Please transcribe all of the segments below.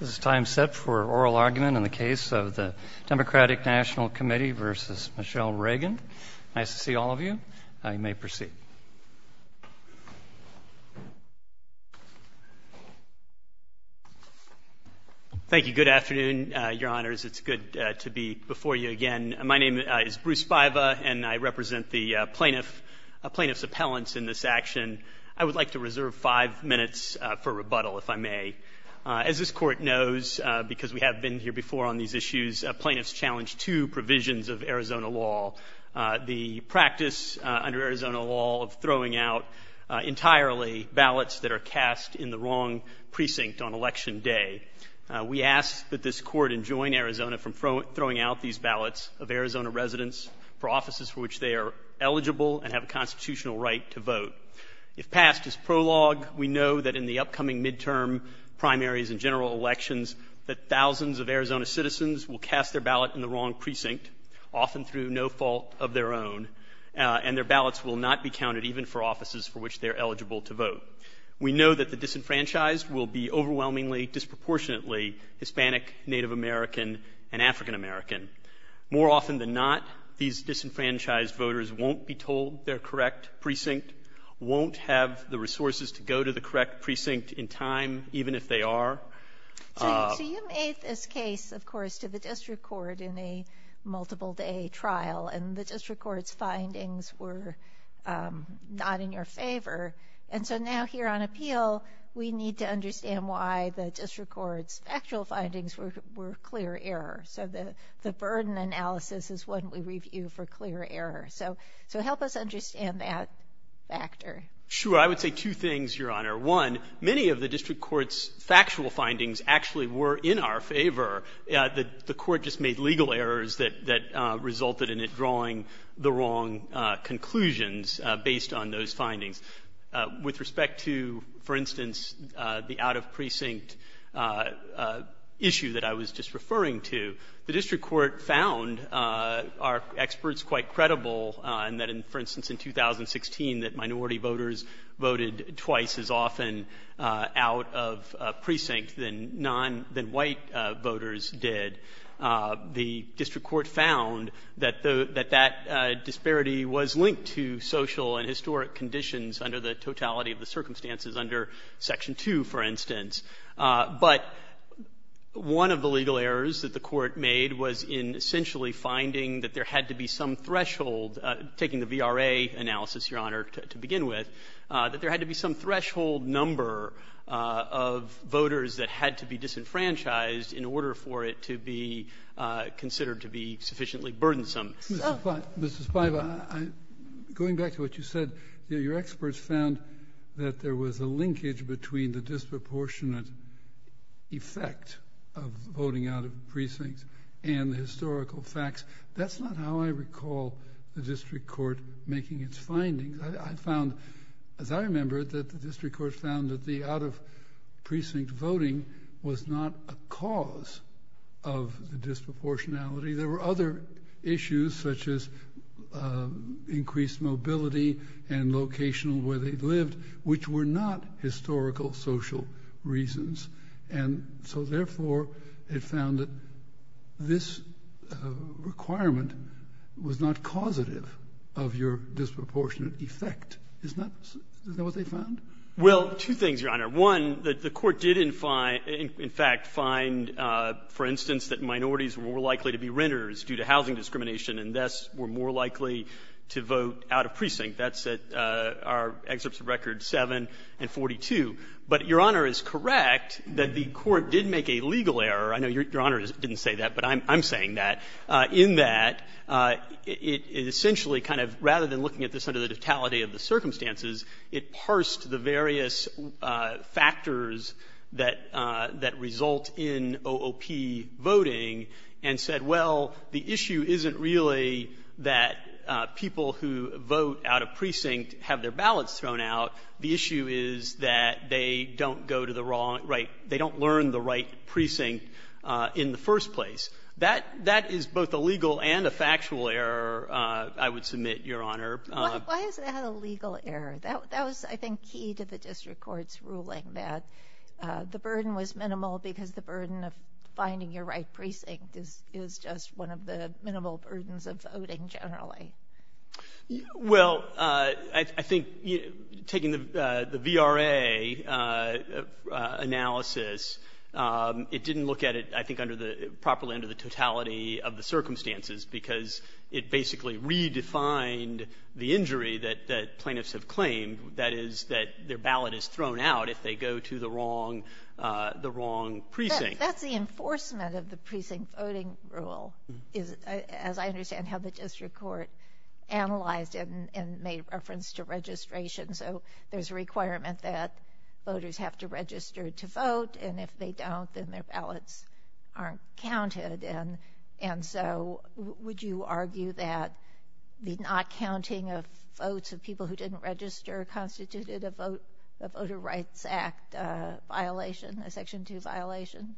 This is time set for oral argument in the case of the Democratic National Committee v. Michele Reagan. Nice to see all of you. You may proceed. Thank you. Good afternoon, Your Honors. It's good to be before you again. My name is Bruce Baiva, and I represent the plaintiff's appellants in this action. I would like to reserve five minutes for rebuttal, if I may. As this Court knows, because we have been here before on these issues, plaintiffs challenge two provisions of Arizona law, the practice under Arizona law of throwing out entirely ballots that are cast in the wrong precinct on Election Day. We ask that this Court enjoin Arizona from throwing out these ballots of Arizona residents for offices for which they are eligible and have a constitutional right to vote. If passed as prologue, we know that in the upcoming midterm primaries and general elections that thousands of Arizona citizens will cast their ballot in the wrong precinct, often through no fault of their own, and their ballots will not be counted, even for offices for which they are eligible to vote. We know that the disenfranchised will be overwhelmingly, disproportionately Hispanic, Native American, and African American. More often than not, these disenfranchised voters won't be told their correct precinct, won't have the resources to go to the correct precinct in time, even if they are. So you made this case, of course, to the district court in a multiple-day trial, and the district court's findings were not in your favor. And so now here on appeal, we need to understand why the district court's actual findings were clear error. So the burden analysis is what we review for clear error. So help us understand that factor. Sure. I would say two things, Your Honor. One, many of the district court's factual findings actually were in our favor. The court just made legal errors that resulted in it drawing the wrong conclusions based on those findings. With respect to, for instance, the out-of-precinct issue that I was just referring to, the district court found our experts quite credible in that, for instance, in 2016, that minority voters voted twice as often out of precinct than non-white voters did. The district court found that that disparity was linked to social and historic conditions under the totality of the circumstances under Section 2, for instance. But one of the legal errors that the court made was in essentially finding that there had to be some threshold, taking the VRA analysis, Your Honor, to begin with, that there had to be some threshold number of voters that had to be disenfranchised in order for it to be considered to be sufficiently burdensome. Mr. Spiva, going back to what you said, your experts found that there was a linkage between the disproportionate effect of voting out of precincts and the historical facts. That's not how I recall the district court making its findings. I found, as I remember it, that the district court found that the out-of-precinct voting was not a cause of the disproportionality. There were other issues, such as increased mobility and location where they lived, which were not historical social reasons. And so, therefore, it found that this requirement was not causative of your disproportionate effect. Isn't that what they found? Well, two things, Your Honor. One, the Court did, in fact, find, for instance, that minorities were more likely to be renters due to housing discrimination, and thus were more likely to vote out of precinct. That's at our excerpts of records 7 and 42. But, Your Honor, it's correct that the Court did make a legal error. I know Your Honor didn't say that, but I'm saying that, in that it essentially kind of, rather than looking at this under the totality of the circumstances, it parsed the various factors that result in OOP voting and said, well, the issue isn't really that people who vote out of precinct have their ballots thrown out. The issue is that they don't go to the wrong right they don't learn the right precinct in the first place. That is both a legal and a factual error, I would submit, Your Honor. Why is that a legal error? That was, I think, key to the District Court's ruling, that the burden was minimal because the burden of finding your right precinct is just one of the minimal burdens of voting, generally. Well, I think taking the VRA analysis, it didn't look at it, I think, properly of the circumstances because it basically redefined the injury that plaintiffs have claimed, that is, that their ballot is thrown out if they go to the wrong precinct. That's the enforcement of the precinct voting rule, as I understand how the District Court analyzed it and made reference to registration. So there's a requirement that voters have to register to vote, and if they don't, then their ballots aren't counted. And so would you argue that the not counting of votes of people who didn't register constituted a Voter Rights Act violation, a Section 2 violation?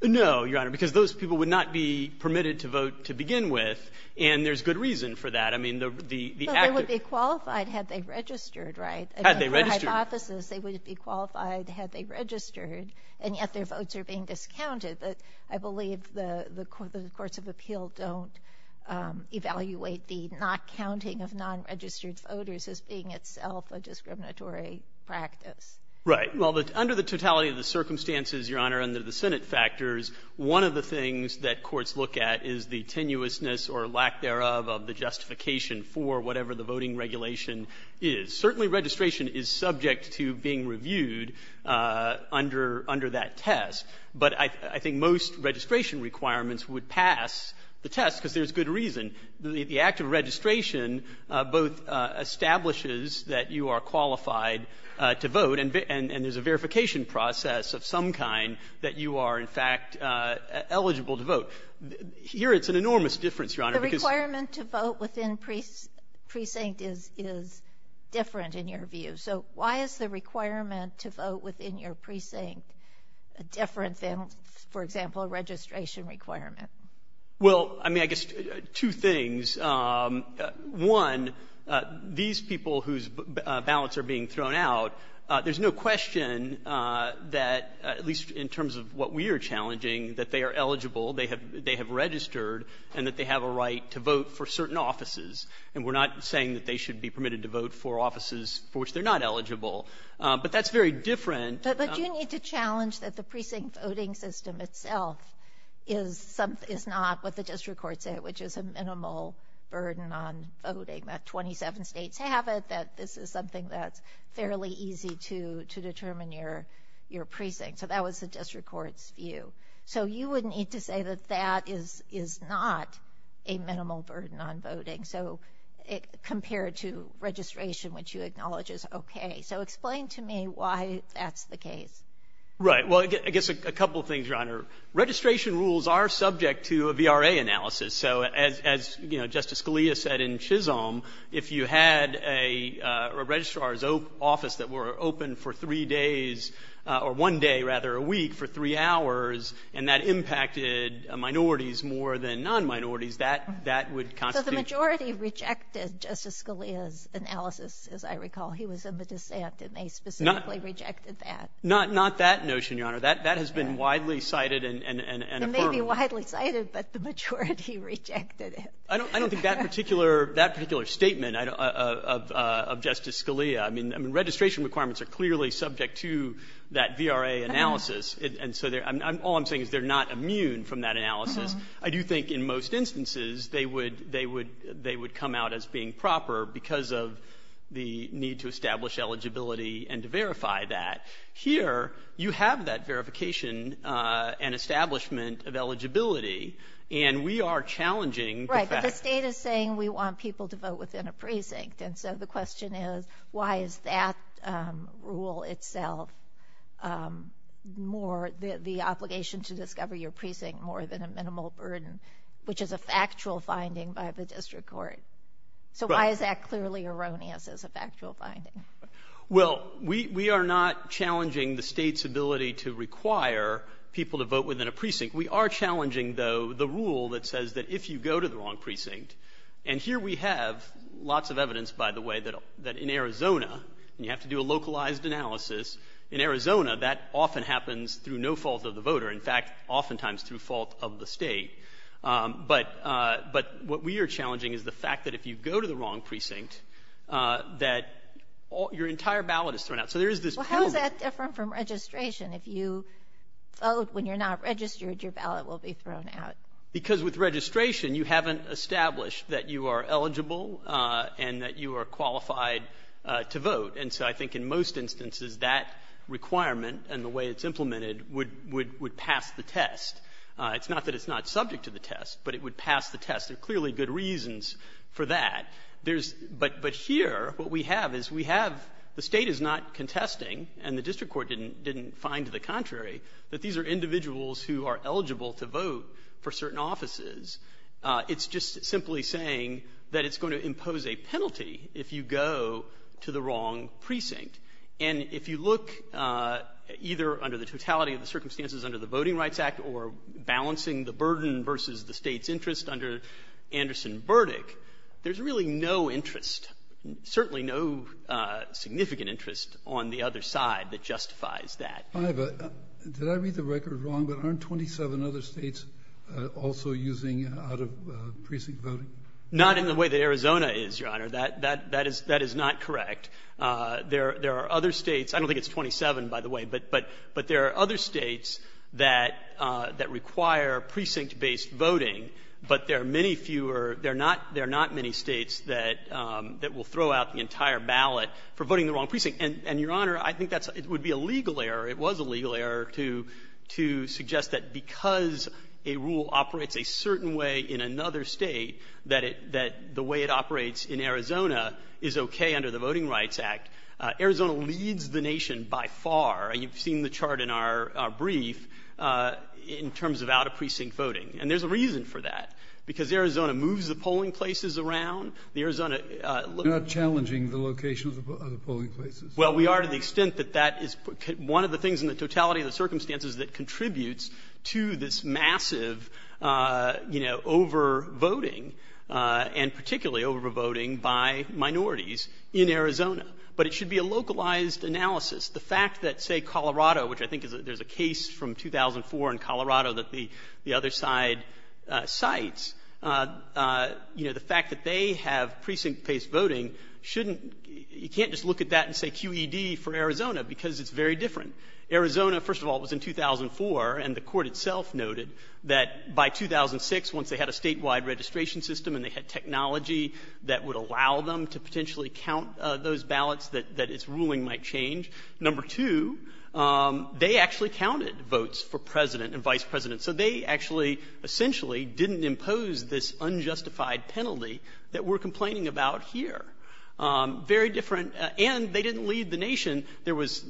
No, Your Honor, because those people would not be permitted to vote to begin with, and there's good reason for that. But they would be qualified had they registered, right? Had they registered. they would be qualified had they registered, and yet their votes are being discounted. But I believe the courts of appeal don't evaluate the not counting of non-registered voters as being itself a discriminatory practice. Right. Well, under the totality of the circumstances, Your Honor, under the Senate factors, one of the things that courts look at is the tenuousness or lack thereof of the justification for whatever the voting regulation is. Certainly, registration is subject to being reviewed under that test. But I think most registration requirements would pass the test because there's good reason. The act of registration both establishes that you are qualified to vote, and there's a verification process of some kind that you are, in fact, eligible to vote. Here it's an enormous difference, Your Honor. But the requirement to vote within precinct is different in your view. So why is the requirement to vote within your precinct different than, for example, a registration requirement? Well, I mean, I guess two things. One, these people whose ballots are being thrown out, there's no question that, at least in terms of what we are challenging, that they are eligible, they have been registered, and that they have a right to vote for certain offices. And we're not saying that they should be permitted to vote for offices for which they're not eligible. But that's very different. But you need to challenge that the precinct voting system itself is not what the district courts say, which is a minimal burden on voting, that 27 states have it, that this is something that's fairly easy to determine your precinct. So that was the district court's view. So you would need to say that that is not a minimal burden on voting. So compared to registration, which you acknowledge is okay. So explain to me why that's the case. Right. Well, I guess a couple things, Your Honor. Registration rules are subject to a VRA analysis. So as, you know, Justice Scalia said in Chisholm, if you had a registrar's office that were open for three days, or one day, rather, a week, for three hours, and that impacted minorities more than non-minorities, that would constitute So the majority rejected Justice Scalia's analysis, as I recall. He was in the dissent, and they specifically rejected that. Not that notion, Your Honor. That has been widely cited and affirmed. It may be widely cited, but the majority rejected it. I don't think that particular statement of Justice Scalia. I mean, registration requirements are clearly subject to that VRA analysis, and so all I'm saying is they're not immune from that analysis. I do think in most instances they would come out as being proper because of the need to establish eligibility and to verify that. Here you have that verification and establishment of eligibility, and we are challenging. Right, but the state is saying we want people to vote within a precinct, and so the question is why is that rule itself more the obligation to discover your precinct more than a minimal burden, which is a factual finding by the district court? Right. So why is that clearly erroneous as a factual finding? Well, we are not challenging the State's ability to require people to vote within a precinct. We are challenging, though, the rule that says that if you go to the wrong precinct and here we have lots of evidence, by the way, that in Arizona, and you have to do a localized analysis, in Arizona that often happens through no fault of the voter. In fact, oftentimes through fault of the State. But what we are challenging is the fact that if you go to the wrong precinct, that your entire ballot is thrown out. So there is this problem. Well, how is that different from registration? If you vote when you're not registered, your ballot will be thrown out. Because with registration, you haven't established that you are eligible and that you are qualified to vote. And so I think in most instances that requirement and the way it's implemented would pass the test. It's not that it's not subject to the test, but it would pass the test. There are clearly good reasons for that. There's — but here what we have is we have — the State is not contesting, and the district court didn't find to the contrary, that these are individuals who are eligible to vote for certain offices. It's just simply saying that it's going to impose a penalty if you go to the wrong precinct. And if you look either under the totality of the circumstances under the Voting Rights Act or balancing the burden versus the State's interest under Anderson Burdick, there's really no interest, certainly no significant interest on the other side that justifies that. Breyer. Did I read the record wrong, but aren't 27 other States also using out-of-precinct voting? Not in the way that Arizona is, Your Honor. That is not correct. There are other States — I don't think it's 27, by the way, but there are other States that require precinct-based voting, but there are many fewer — there are not many States that will throw out the entire ballot for voting in the wrong precinct. And, Your Honor, I think that's — it would be a legal error, it was a legal error, to suggest that because a rule operates a certain way in another State, that it — that the way it operates in Arizona is okay under the Voting Rights Act. Arizona leads the nation by far. You've seen the chart in our brief in terms of out-of-precinct voting. And there's a reason for that. Because Arizona moves the polling places around. The Arizona — Well, we are to the extent that that is one of the things in the totality of the circumstances that contributes to this massive, you know, over-voting, and particularly over-voting by minorities in Arizona. But it should be a localized analysis. The fact that, say, Colorado, which I think is — there's a case from 2004 in Colorado that the other side cites, you know, the fact that they have precinct-based voting shouldn't — you can't just look at that and say QED for Arizona, because it's very different. Arizona, first of all, was in 2004, and the Court itself noted that by 2006, once they had a statewide registration system and they had technology that would allow them to potentially count those ballots, that its ruling might change. Number two, they actually counted votes for president and vice president. So they actually, essentially, didn't impose this unjustified penalty that we're talking about here. Very different — and they didn't lead the nation. There was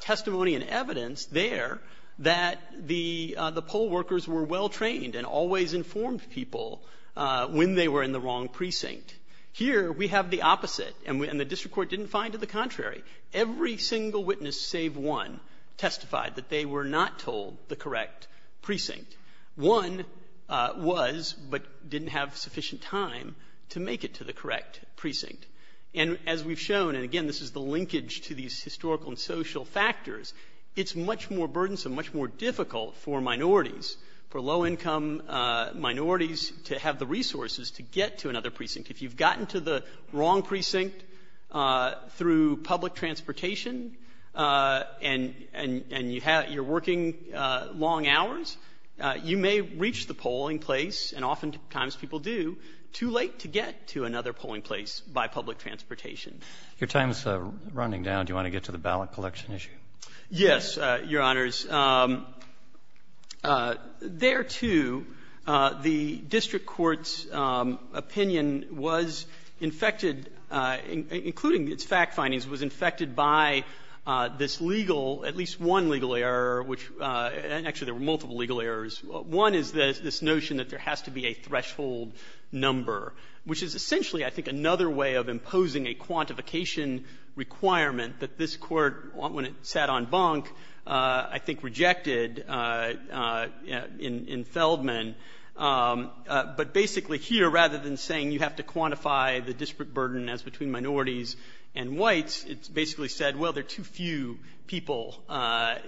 testimony and evidence there that the — the poll workers were well-trained and always informed people when they were in the wrong precinct. Here, we have the opposite, and the district court didn't find it the contrary. Every single witness, save one, testified that they were not told the correct precinct. One was, but didn't have sufficient time to make it to the correct precinct. And as we've shown, and again, this is the linkage to these historical and social factors, it's much more burdensome, much more difficult for minorities, for low-income minorities to have the resources to get to another precinct. If you've gotten to the wrong precinct through public transportation and — and you have — you're working long hours, you may reach the polling place, and oftentimes people do, too late to get to another polling place by public transportation. Your time is running down. Do you want to get to the ballot collection issue? Yes, Your Honors. There, too, the district court's opinion was infected, including its fact findings, was infected by this legal — at least one legal error, which is essentially, I think, another way of imposing a quantification requirement that this Court, when it sat on bunk, I think rejected in Feldman. But basically here, rather than saying you have to quantify the district burden as between minorities and whites, it basically said, well, there are too few people that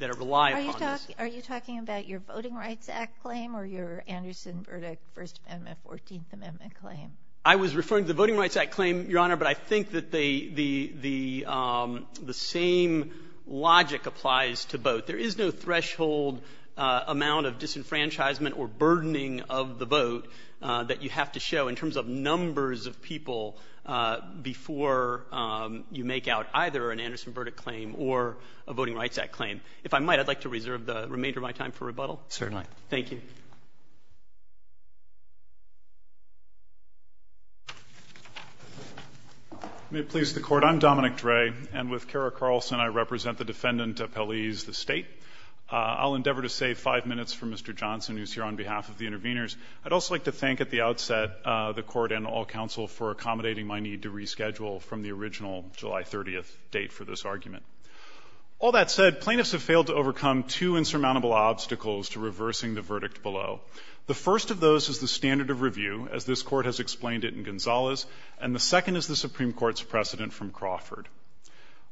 rely upon this. Are you talking about your Voting Rights Act claim or your Anderson-Burdick First Amendment, Fourteenth Amendment claim? I was referring to the Voting Rights Act claim, Your Honor, but I think that the same logic applies to both. There is no threshold amount of disenfranchisement or burdening of the vote that you have to show in terms of numbers of people before you make out either an Anderson-Burdick claim or a Voting Rights Act claim. If I might, I'd like to reserve the remainder of my time for rebuttal. Certainly. Thank you. May it please the Court. I'm Dominic Dre. And with Kara Carlson, I represent the defendant appellees, the State. I'll endeavor to save five minutes for Mr. Johnson, who's here on behalf of the interveners. I'd also like to thank at the outset the Court and all counsel for accommodating my need to reschedule from the original July 30th date for this argument. All that said, plaintiffs have failed to overcome two insurmountable obstacles to reversing the verdict below. The first of those is the standard of review, as this Court has explained it in Gonzales, and the second is the Supreme Court's precedent from Crawford.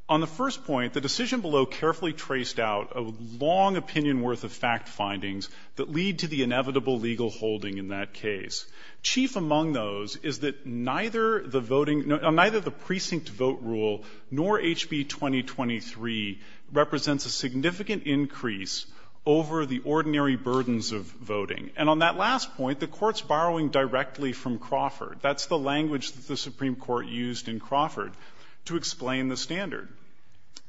On the first point, the decision below carefully traced out a long opinion worth of fact findings that lead to the inevitable legal holding in that case. Chief among those is that neither the voting — neither the precinct vote rule nor HB 2023 represents a significant increase over the ordinary burdens of voting. And on that last point, the Court's borrowing directly from Crawford. That's the language that the Supreme Court used in Crawford to explain the standard.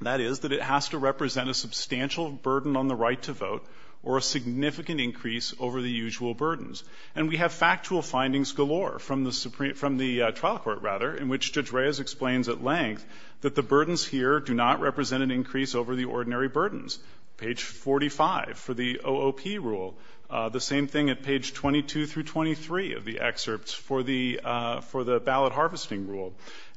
That is, that it has to represent a substantial burden on the right to vote or a significant increase over the usual burdens. And we have factual findings galore from the Supreme — from the trial court, rather, in which Judge Reyes explains at length that the burdens here do not represent an increase over the ordinary burdens. Page 45 for the OOP rule, the same thing at page 22 through 23 of the excerpts for the — for the ballot harvesting rule.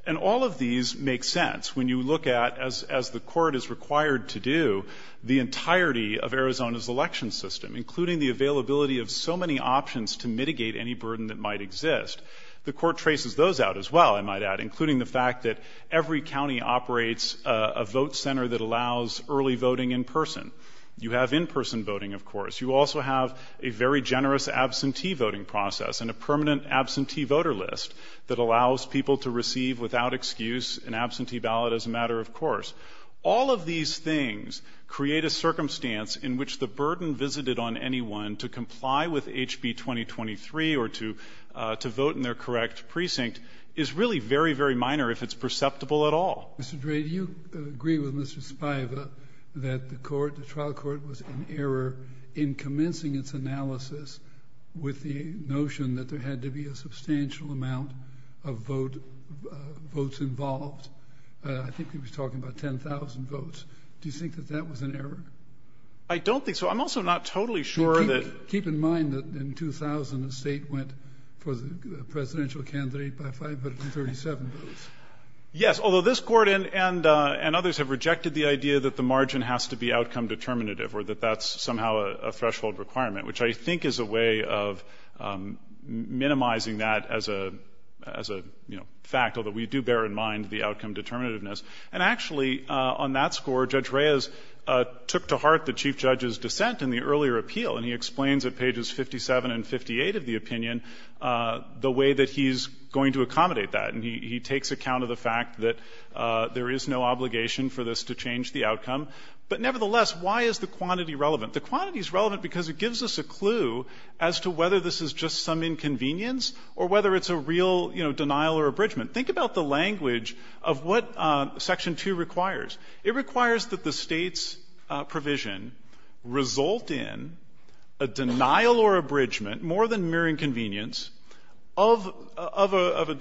And all of these make sense when you look at, as the Court is required to do, the entirety of Arizona's election system, including the availability of so many options to mitigate any burden that might exist. The Court traces those out as well, I might add, including the fact that every county operates a vote center that allows early voting in person. You have in-person voting, of course. You also have a very generous absentee voting process and a permanent absentee voter list that allows people to receive, without excuse, an absentee ballot as a matter of course. All of these things create a circumstance in which the burden visited on anyone to comply with HB 2023 or to vote in their correct precinct is really very, very minor if it's perceptible at all. Mr. Dray, do you agree with Mr. Spiva that the trial court was in error in commencing its analysis with the notion that there had to be a substantial amount of votes involved? I think he was talking about 10,000 votes. Do you think that that was an error? I don't think so. I'm also not totally sure that — Keep in mind that in 2000, the State went for the presidential candidate by 537 votes. Yes. Although this Court and others have rejected the idea that the margin has to be outcome determinative or that that's somehow a threshold requirement, which I think is a way of minimizing that as a, you know, fact, although we do bear in mind the outcome determinativeness. And actually, on that score, Judge Reyes took to heart the Chief Judge's dissent in the earlier appeal, and he explains at pages 57 and 58 of the opinion the way that he's going to accommodate that. And he takes account of the fact that there is no obligation for this to change the outcome. But nevertheless, why is the quantity relevant? The quantity is relevant because it gives us a clue as to whether this is just some inconvenience or whether it's a real, you know, denial or abridgment. Think about the language of what Section 2 requires. It requires that the State's provision result in a denial or abridgment, more than a mere inconvenience, of a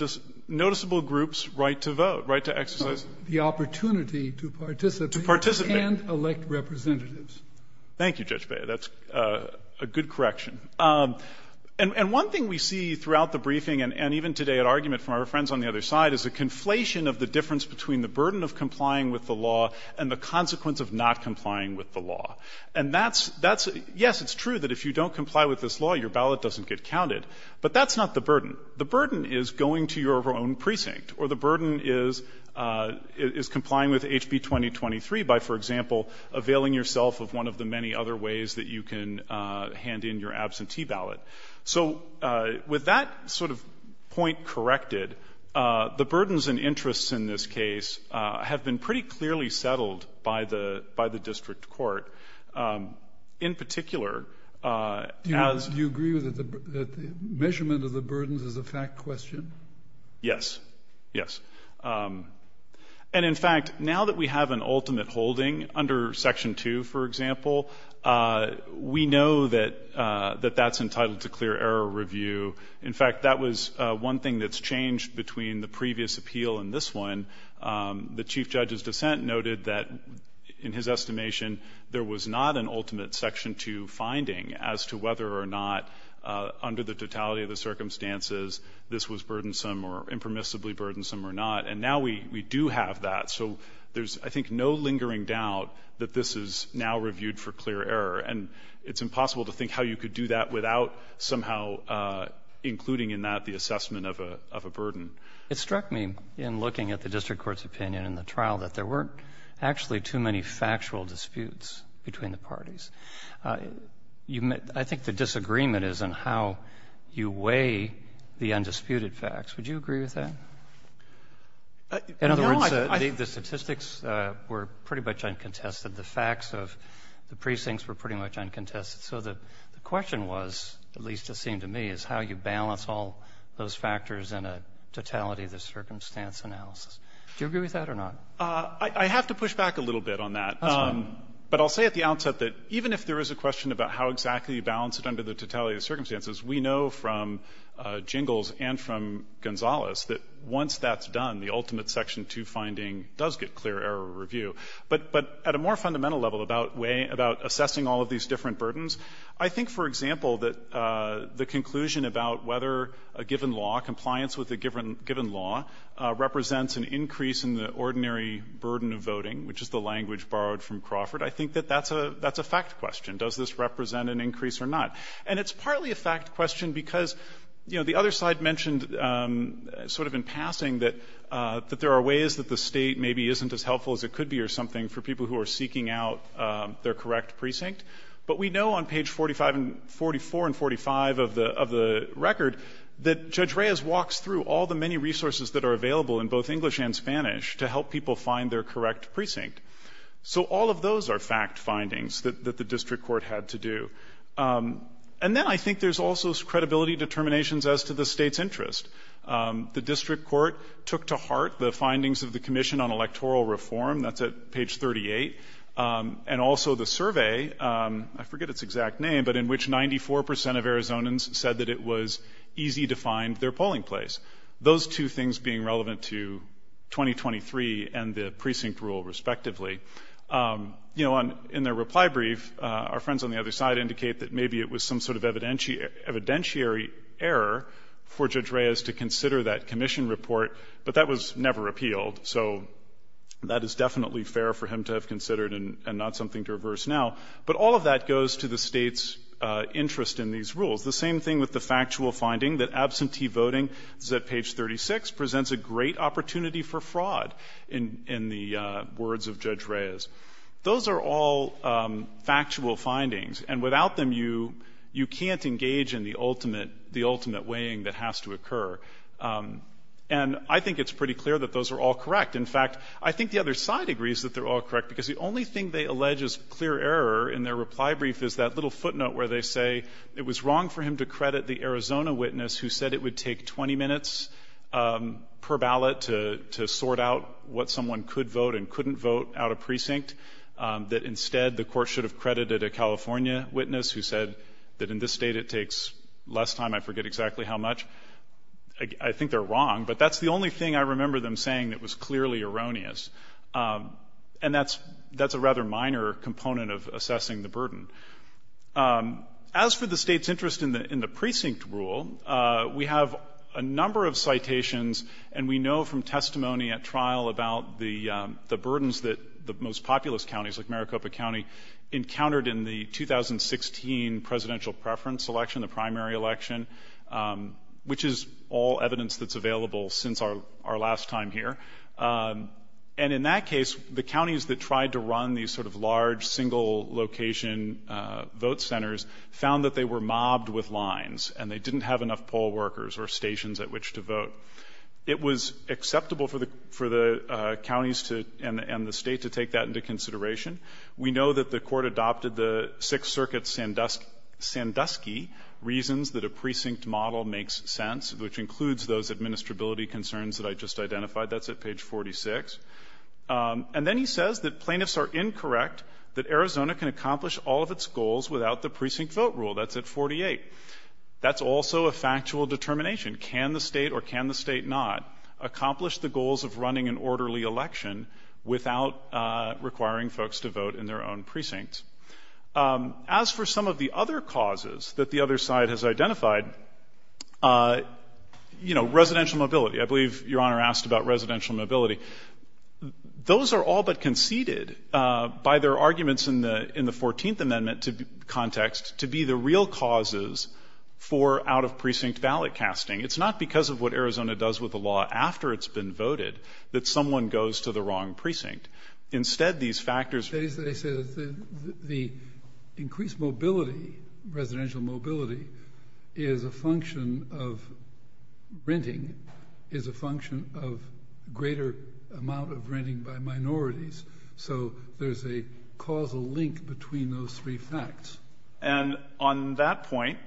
noticeable group's right to vote, right to exercise the opportunity to participate and elect representatives. Thank you, Judge Beyer. That's a good correction. And one thing we see throughout the briefing and even today at argument from our friends on the other side is a conflation of the difference between the burden of complying with the law and the consequence of not complying with the law. And that's yes, it's true that if you don't comply with this law, your ballot doesn't get counted, but that's not the burden. The burden is going to your own precinct, or the burden is complying with HB 2023 by, for example, availing yourself of one of the many other ways that you can hand in your absentee ballot. So with that sort of point corrected, the burdens and interests in this case have been pretty clearly settled by the district court, in particular, as the burden measurement of the burdens is a fact question? Yes, yes. And in fact, now that we have an ultimate holding under Section 2, for example, we know that that's entitled to clear error review. In fact, that was one thing that's changed between the previous appeal and this one. The Chief Judge's dissent noted that in his estimation there was not an ultimate Section 2 finding as to whether or not under the totality of the circumstances this was burdensome or impermissibly burdensome or not. And now we do have that. So there's, I think, no lingering doubt that this is now reviewed for clear error. And it's impossible to think how you could do that without somehow including in that the assessment of a burden. It struck me in looking at the district court's opinion in the trial that there weren't actually too many factual disputes between the parties. I think the disagreement is in how you weigh the undisputed facts. Would you agree with that? In other words, the statistics were pretty much uncontested. The facts of the precincts were pretty much uncontested. So the question was, at least it seemed to me, is how you balance all those factors in a totality of the circumstance analysis. Do you agree with that or not? I have to push back a little bit on that. But I'll say at the outset that even if there is a question about how exactly you balance it under the totality of the circumstances, we know from Jingles and from Gonzales that once that's done, the ultimate Section 2 finding does get clear error review. But at a more fundamental level about way of assessing all of these different burdens, I think, for example, that the conclusion about whether a given law, compliance with a given law, represents an increase in the ordinary burden of voting, which is the language borrowed from Crawford, I think that that's a fact question. Does this represent an increase or not? And it's partly a fact question because, you know, the other side mentioned sort of in passing that there are ways that the State maybe isn't as helpful as it could be or something for people who are seeking out their correct precinct. But we know on page 45 and 44 and 45 of the record that Judge Reyes walks through all the many resources that are available in both English and Spanish to help people find their correct precinct. So all of those are fact findings that the district court had to do. And then I think there's also credibility determinations as to the State's interest. The district court took to heart the findings of the Commission on Electoral Reform. That's at page 38. And also the survey, I forget its exact name, but in which 94 percent of Arizonans said that it was easy to find their polling place. Those two things being relevant to 2023 and the precinct rule, respectively. You know, in their reply brief, our friends on the other side indicate that maybe it was some sort of evidentiary error for Judge Reyes to consider that Commission report, but that was never appealed. So that is definitely fair for him to have considered and not something to reverse now. But all of that goes to the State's interest in these rules. The same thing with the factual finding that absentee voting, this is at page 36, presents a great opportunity for fraud in the words of Judge Reyes. Those are all factual findings. And without them, you can't engage in the ultimate weighing that has to occur. And I think it's pretty clear that those are all correct. In fact, I think the other side agrees that they're all correct, because the only thing they allege is clear error in their reply brief is that little footnote where they say it was wrong for him to credit the Arizona witness who said it would take 20 minutes per ballot to sort out what someone could vote and couldn't vote out of precinct, that instead the Court should have credited a California witness who said that in this State it takes less time, I forget exactly how much. I think they're wrong, but that's the only thing I remember them saying that was clearly erroneous. And that's a rather minor component of assessing the burden. As for the State's interest in the precinct rule, we have a number of citations, and we know from testimony at trial about the burdens that the most populous counties, like Maricopa County, encountered in the 2016 presidential preference election, the primary election, which is all evidence that's available since our last time here. And in that case, the counties that tried to run these sort of large, single location vote centers found that they were mobbed with lines and they didn't have enough poll workers or stations at which to vote. It was acceptable for the counties and the State to take that into consideration. We know that the Court adopted the Sixth Circuit Sandusky reasons that a precinct model makes sense, which includes those administrability concerns that I just identified. That's at page 46. And then he says that plaintiffs are incorrect, that Arizona can accomplish all of its goals without the precinct vote rule. That's at 48. That's also a factual determination. Can the State or can the State not accomplish the goals of running an orderly election without requiring folks to vote in their own precincts? As for some of the other causes that the other side has identified, you know, residential mobility. I believe Your Honor asked about residential mobility. Those are all but conceded by their arguments in the 14th Amendment context to be the real causes for out-of-precinct ballot casting. It's not because of what Arizona does with the law after it's been voted that someone goes to the wrong precinct. Instead, these factors are. Kennedy. They say that the increased mobility, residential mobility, is a function of renting, is a function of greater amount of renting by minorities. So there's a causal link between those three facts. And on that point,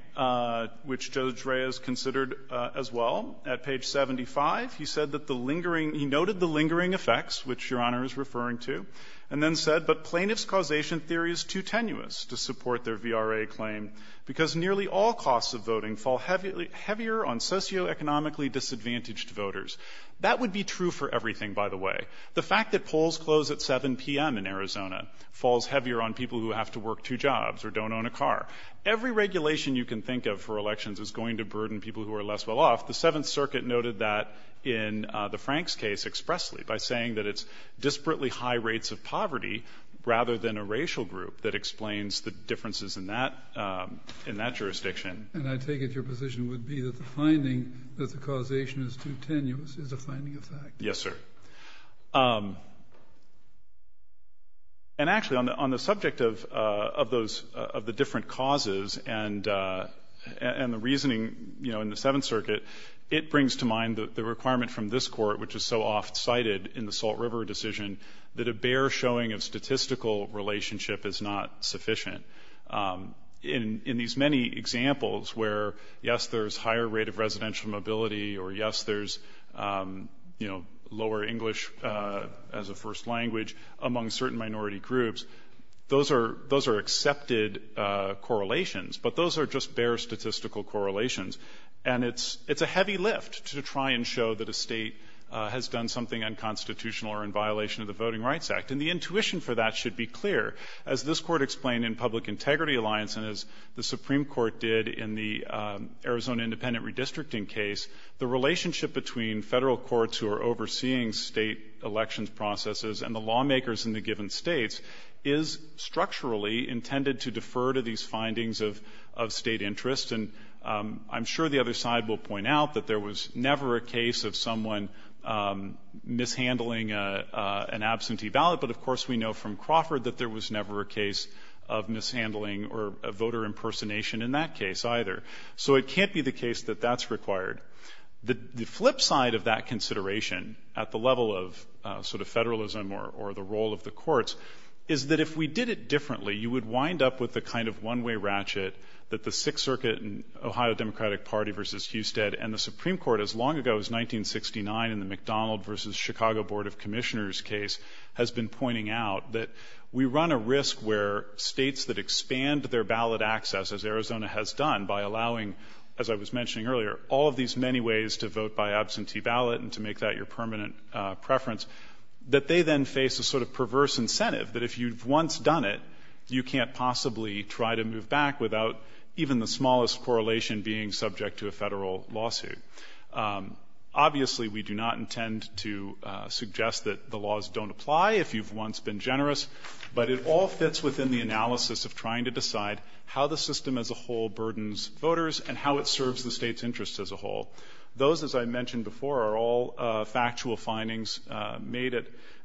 which Judge Reyes considered as well, at page 75, he said that the lingering he noted the lingering effects, which Your Honor is referring to, and then said, but plaintiff's causation theory is too tenuous to support their VRA claim because nearly all costs of voting fall heavier on socioeconomically disadvantaged voters. That would be true for everything, by the way. The fact that polls close at 7 p.m. in Arizona falls heavier on people who have to work two jobs or don't own a car. Every regulation you can think of for elections is going to burden people who are less well-off. The Seventh Circuit noted that in the Franks case expressly by saying that it's disparately high rates of poverty rather than a racial group that explains the differences in that jurisdiction. And I take it your position would be that the finding that the causation is too tenuous is a finding of fact. Yes, sir. And actually, on the subject of those of the different causes and the reasoning, you know, in the Seventh Circuit, it brings to mind the requirement from this court, which is so oft cited in the Salt River decision, that a bare showing of statistical relationship is not sufficient. In these many examples where, yes, there's higher rate of residential mobility or, yes, there's, you know, lower English as a first language among certain minority groups, those are accepted correlations, but those are just bare statistical correlations. And it's a heavy lift to try and show that a State has done something unconstitutional or in violation of the Voting Rights Act. And the intuition for that should be clear. As this court explained in Public Integrity Alliance and as the Supreme Court did in the Arizona Independent Redistricting case, the relationship between Federal courts who are overseeing State elections processes and the lawmakers in the given States is structurally intended to defer to these findings of State interest. And I'm sure the other side will point out that there was never a case of someone mishandling an absentee ballot, but, of course, we know from Crawford that there was never a case of mishandling or voter impersonation in that case either. So it can't be the case that that's required. The flip side of that consideration at the level of sort of Federalism or the role of the courts is that if we did it differently, you would wind up with the kind of one-way ratchet that the Sixth Circuit and Ohio Democratic Party versus Husted and the Supreme Court as long ago as 1969 in the McDonald versus Chicago Board of Commissioners case has been pointing out, that we run a risk where States that expand their ballot access, as Arizona has done by allowing, as I was mentioning earlier, all of these many ways to vote by absentee ballot and to make that your once done it, you can't possibly try to move back without even the smallest correlation being subject to a Federal lawsuit. Obviously, we do not intend to suggest that the laws don't apply if you've once been generous, but it all fits within the analysis of trying to decide how the system as a whole burdens voters and how it serves the State's interests as a whole. Those, as I mentioned before, are all factual findings made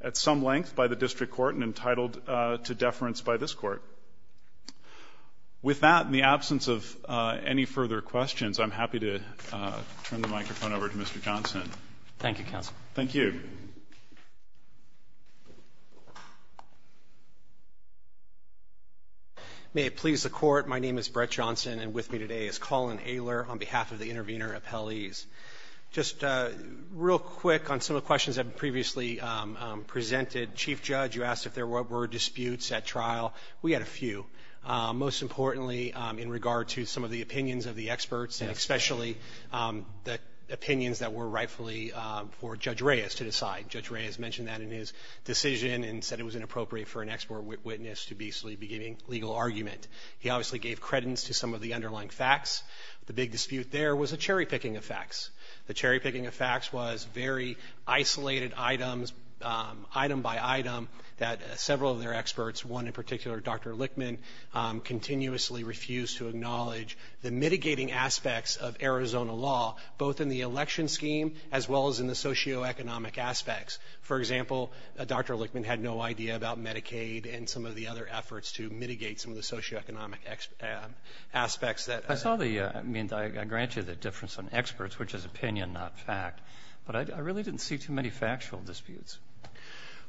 at some length by the District Court and entitled to deference by this Court. With that, in the absence of any further questions, I'm happy to turn the microphone over to Mr. Johnson. Thank you, counsel. Thank you. May it please the Court, my name is Brett Johnson, and with me today is Colin Ayler on behalf of the intervener appellees. Just real quick on some of the questions that were previously presented. Chief Judge, you asked if there were disputes at trial. We had a few. Most importantly, in regard to some of the opinions of the experts and especially the opinions that were rightfully for Judge Reyes to decide. Judge Reyes mentioned that in his decision and said it was inappropriate for an expert witness to be giving legal argument. He obviously gave credence to some of the underlying facts. The big dispute there was a cherry-picking of facts. The cherry-picking of facts was very isolated items, item by item, that several of their experts, one in particular, Dr. Lichtman, continuously refused to acknowledge the mitigating aspects of Arizona law, both in the election scheme as well as in the socioeconomic aspects. For example, Dr. Lichtman had no idea about Medicaid and some of the other efforts to mitigate some of the socioeconomic aspects. I saw the — I mean, I grant you the difference on experts, which is opinion, not fact, but I really didn't see too many factual disputes.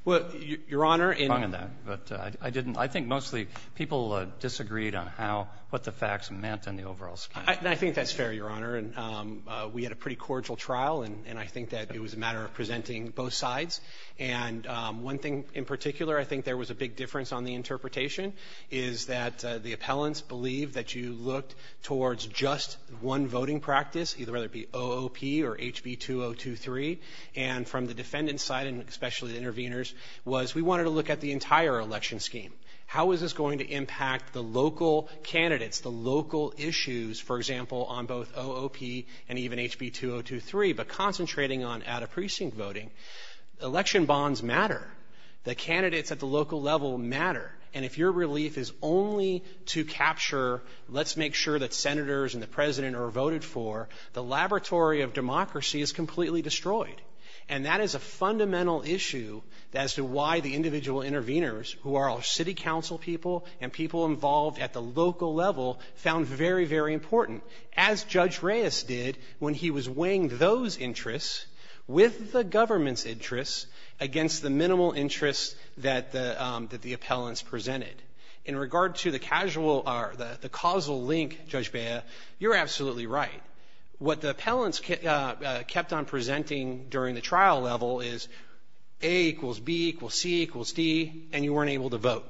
Well, Your Honor, in — I didn't. I think mostly people disagreed on how — what the facts meant in the overall scheme. I think that's fair, Your Honor. We had a pretty cordial trial, and I think that it was a matter of presenting both sides. And one thing in particular, I think there was a big difference on the interpretation, is that the appellants believe that you looked towards just one voting practice, either it be OOP or HB2023. And from the defendant's side, and especially the intervenors, was we wanted to look at the entire election scheme. How is this going to impact the local candidates, the local issues, for example, on both OOP and even HB2023? But concentrating on out-of-precinct voting, election bonds matter. The candidates at the local level matter. And if your relief is only to capture let's make sure that senators and the president are voted for, the laboratory of democracy is completely destroyed. And that is a fundamental issue as to why the individual intervenors, who are our city council people and people involved at the local level, found very, very important. As Judge Reyes did when he was weighing those interests with the government's interests against the minimal interests that the appellants presented. In regard to the causal link, Judge Bea, you're absolutely right. What the appellants kept on presenting during the trial level is A equals B equals C equals D, and you weren't able to vote.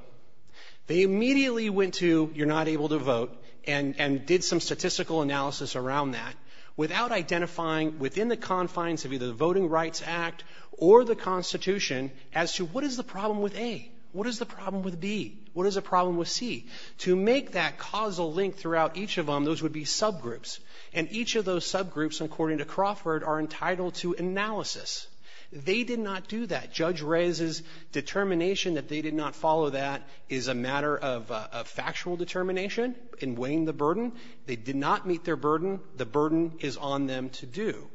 They immediately went to you're not able to vote and did some statistical analysis around that without identifying within the confines of either the Voting Rights Act or the Constitution as to what is the problem with A? What is the problem with B? What is the problem with C? To make that causal link throughout each of them, those would be subgroups. And each of those subgroups, according to Crawford, are entitled to analysis. They did not do that. Judge Reyes's determination that they did not follow that is a matter of factual determination in weighing the burden. They did not meet their burden. The burden is on them to do.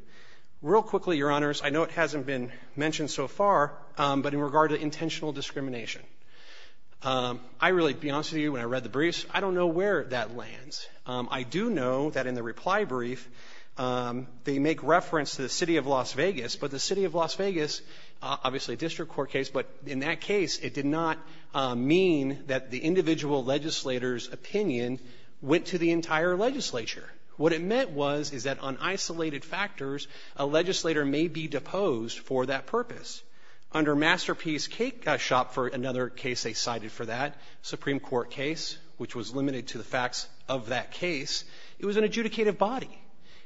Real quickly, Your Honors, I know it hasn't been mentioned so far, but in regard to intentional discrimination, I really, to be honest with you, when I read the briefs, I don't know where that lands. I do know that in the reply brief, they make reference to the City of Las Vegas, but the City of Las Vegas, obviously a district court case, but in that case, it did not mean that the individual legislator's opinion went to the entire legislature. What it meant was is that on isolated factors, a legislator may be deposed for that purpose. Under Masterpiece Cake Shop for another case they cited for that, Supreme Court case, which was limited to the facts of that case, it was an adjudicative body.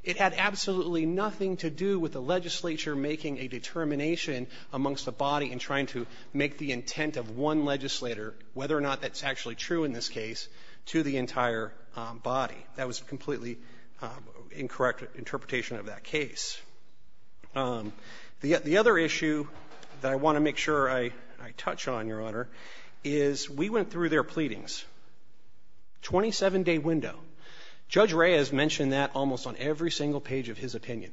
It had absolutely nothing to do with the legislature making a determination amongst the body in trying to make the intent of one legislator, whether or not that's actually true in this case, to the entire body. That was a completely incorrect interpretation of that case. The other issue that I want to make sure I touch on, Your Honor, is we went through their pleadings. 27-day window. Judge Reyes mentioned that almost on every single page of his opinion,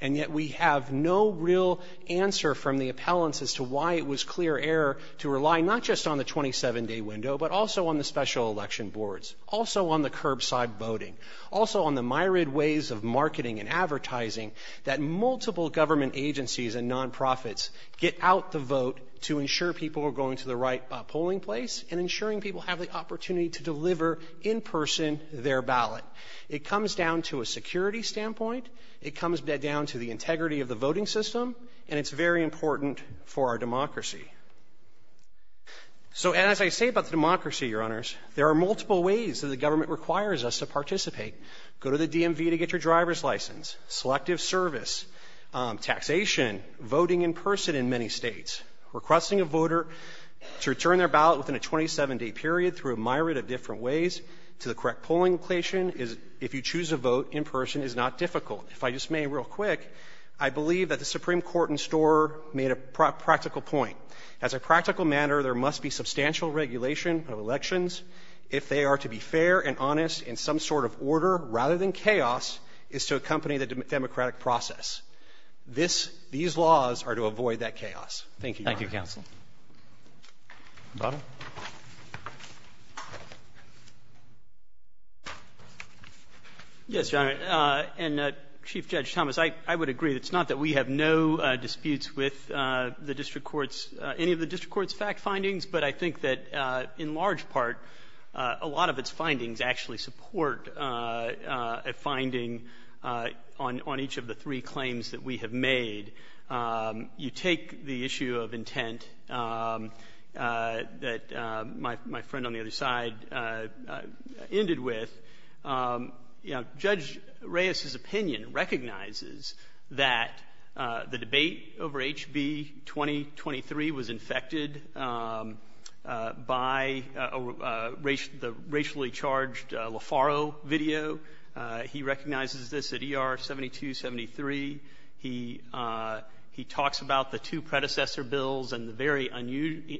and yet we have no real answer from the appellants as to why it was clear error to rely not just on the 27-day window, but also on the special election boards, also on the curbside voting, also on the myriad ways of marketing and advertising that multiple government agencies and nonprofits get out the vote to ensure people have the opportunity to deliver in person their ballot. It comes down to a security standpoint. It comes down to the integrity of the voting system, and it's very important for our democracy. So as I say about the democracy, Your Honors, there are multiple ways that the government requires us to participate. Go to the DMV to get your driver's license, selective service, taxation, voting in person in many States, requesting a voter to return their ballot within a 27-day period through a myriad of different ways to the correct polling location, if you choose to vote in person, is not difficult. If I just may real quick, I believe that the Supreme Court in Storer made a practical point. As a practical matter, there must be substantial regulation of elections if they are to be fair and honest in some sort of order, rather than chaos, is to accompany the democratic process. These laws are to avoid that chaos. Thank you, Your Honor. Thank you, counsel. Mr. Butler. Yes, Your Honor. And Chief Judge Thomas, I would agree. It's not that we have no disputes with the district courts, any of the district court's fact findings, but I think that in large part, a lot of its findings actually support a finding on each of the three claims that we have made. You take the issue of intent that my friend on the other side ended with. You know, Judge Reyes's opinion recognizes that the debate over HB 2023 was infected by the racially charged LaFaro video. He recognizes this at ER 7273. He talks about the two predecessor bills and the very unusual,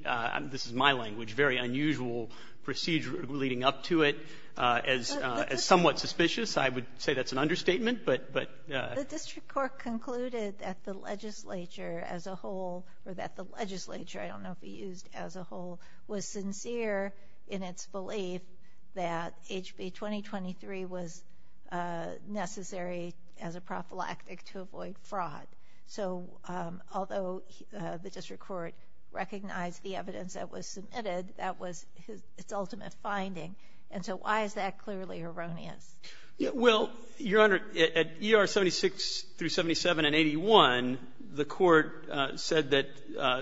this is my language, very unusual procedure leading up to it as somewhat suspicious. I would say that's an understatement, but. The district court concluded that the legislature as a whole, or that the legislature, I don't know if he used as a whole, was sincere in its belief that HB 2023 was necessary as a prophylactic to avoid fraud. So although the district court recognized the evidence that was submitted, that was its ultimate finding. And so why is that clearly erroneous? Well, Your Honor, at ER 76 through 77 and 81, the Court said that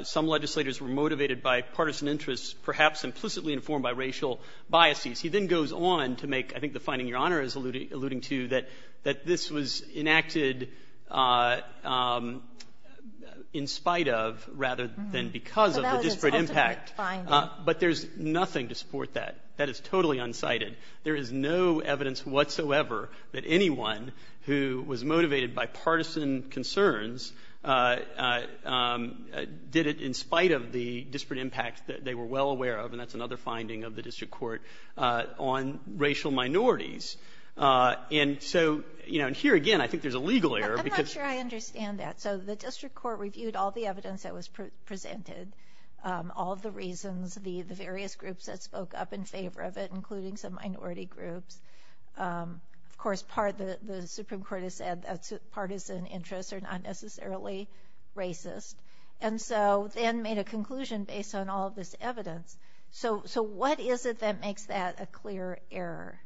some legislators were motivated by partisan interests, perhaps implicitly informed by racial biases. He then goes on to make, I think the finding Your Honor is alluding to, that this was enacted in spite of rather than because of the disparate impact. But that was its ultimate finding. But there's nothing to support that. That is totally unsighted. There is no evidence whatsoever that anyone who was motivated by partisan concerns did it in spite of the disparate impact that they were well aware of. And that's another finding of the district court on racial minorities. And so here again, I think there's a legal error. I'm not sure I understand that. So the district court reviewed all the evidence that was presented, all of the reasons, the various groups that spoke up in favor of it, including some minority groups. Of course, part of the Supreme Court has said that partisan interests are not necessarily racist. And so then made a conclusion based on all of this evidence. So what is it that makes that a clear error?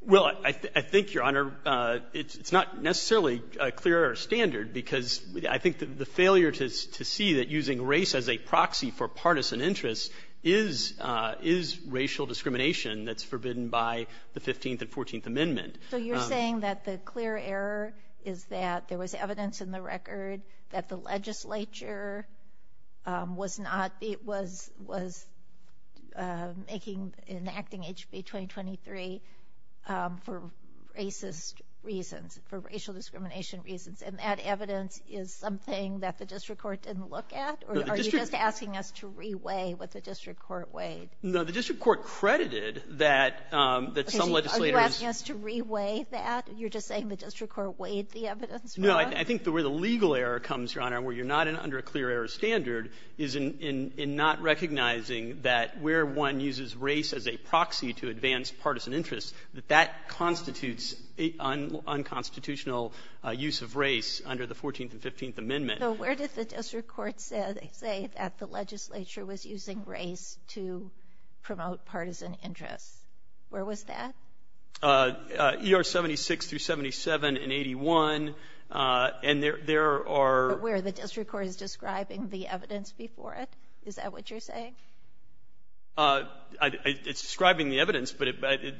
Well, I think, Your Honor, it's not necessarily a clear error standard because I think the failure to see that using race as a proxy for partisan interests is racial discrimination that's forbidden by the 15th and 14th Amendment. So you're saying that the clear error is that there was evidence in the record that the legislature was making, enacting HB 2023 for racist reasons, for racial discrimination reasons. And that evidence is something that the district court didn't look at? Or are you just asking us to re-weigh what the district court weighed? No. The district court credited that some legislators ---- Are you asking us to re-weigh that? You're just saying the district court weighed the evidence for us? No. I think where the legal error comes, Your Honor, where you're not under a clear error standard is in not recognizing that where one uses race as a proxy to advance under the 14th and 15th Amendment. So where did the district court say that the legislature was using race to promote partisan interests? Where was that? ER 76 through 77 and 81. And there are ---- But where the district court is describing the evidence before it? Is that what you're saying? It's describing the evidence, but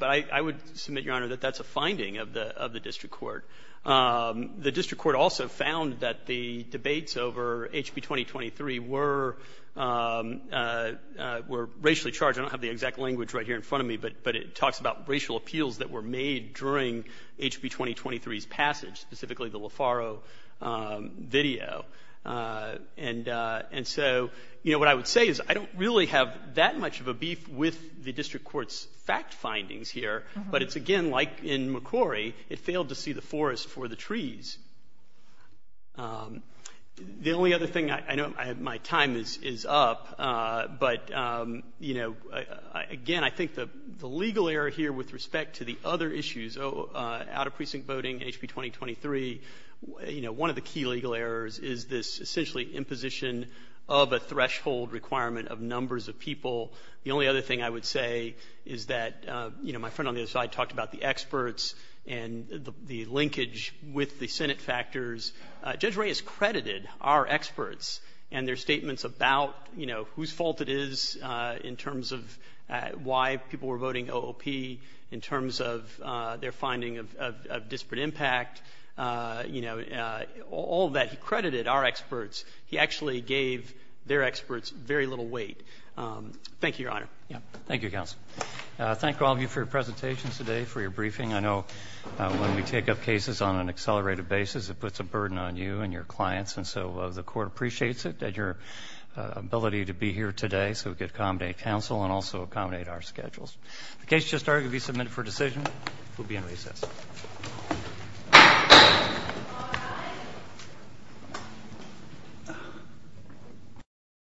I would submit, Your Honor, that that's a finding of the district court. The district court also found that the debates over HB 2023 were racially charged. I don't have the exact language right here in front of me, but it talks about racial appeals that were made during HB 2023's passage, specifically the LeFaro video. And so, you know, what I would say is I don't really have that much of a beef with the district court's fact findings here, but it's, again, like in McCrory, it failed to see the forest for the trees. The only other thing, I know my time is up, but, you know, again, I think the legal error here with respect to the other issues, out-of-precinct voting, HB 2023, you know, one of the key legal errors is this essentially imposition of a threshold requirement of numbers of people. The only other thing I would say is that, you know, my friend on the other side talked about the experts and the linkage with the Senate factors. Judge Ray has credited our experts and their statements about, you know, whose fault it is in terms of why people were voting OOP, in terms of their finding of disparate impact, you know, all that. He credited our experts. He actually gave their experts very little weight. Thank you, Your Honor. Roberts. Thank you, counsel. Thank all of you for your presentations today, for your briefing. I know when we take up cases on an accelerated basis, it puts a burden on you and your clients, and so the Court appreciates it, and your ability to be here today so we can accommodate counsel and also accommodate our schedules. The case has just started to be submitted for decision. We'll be in recess.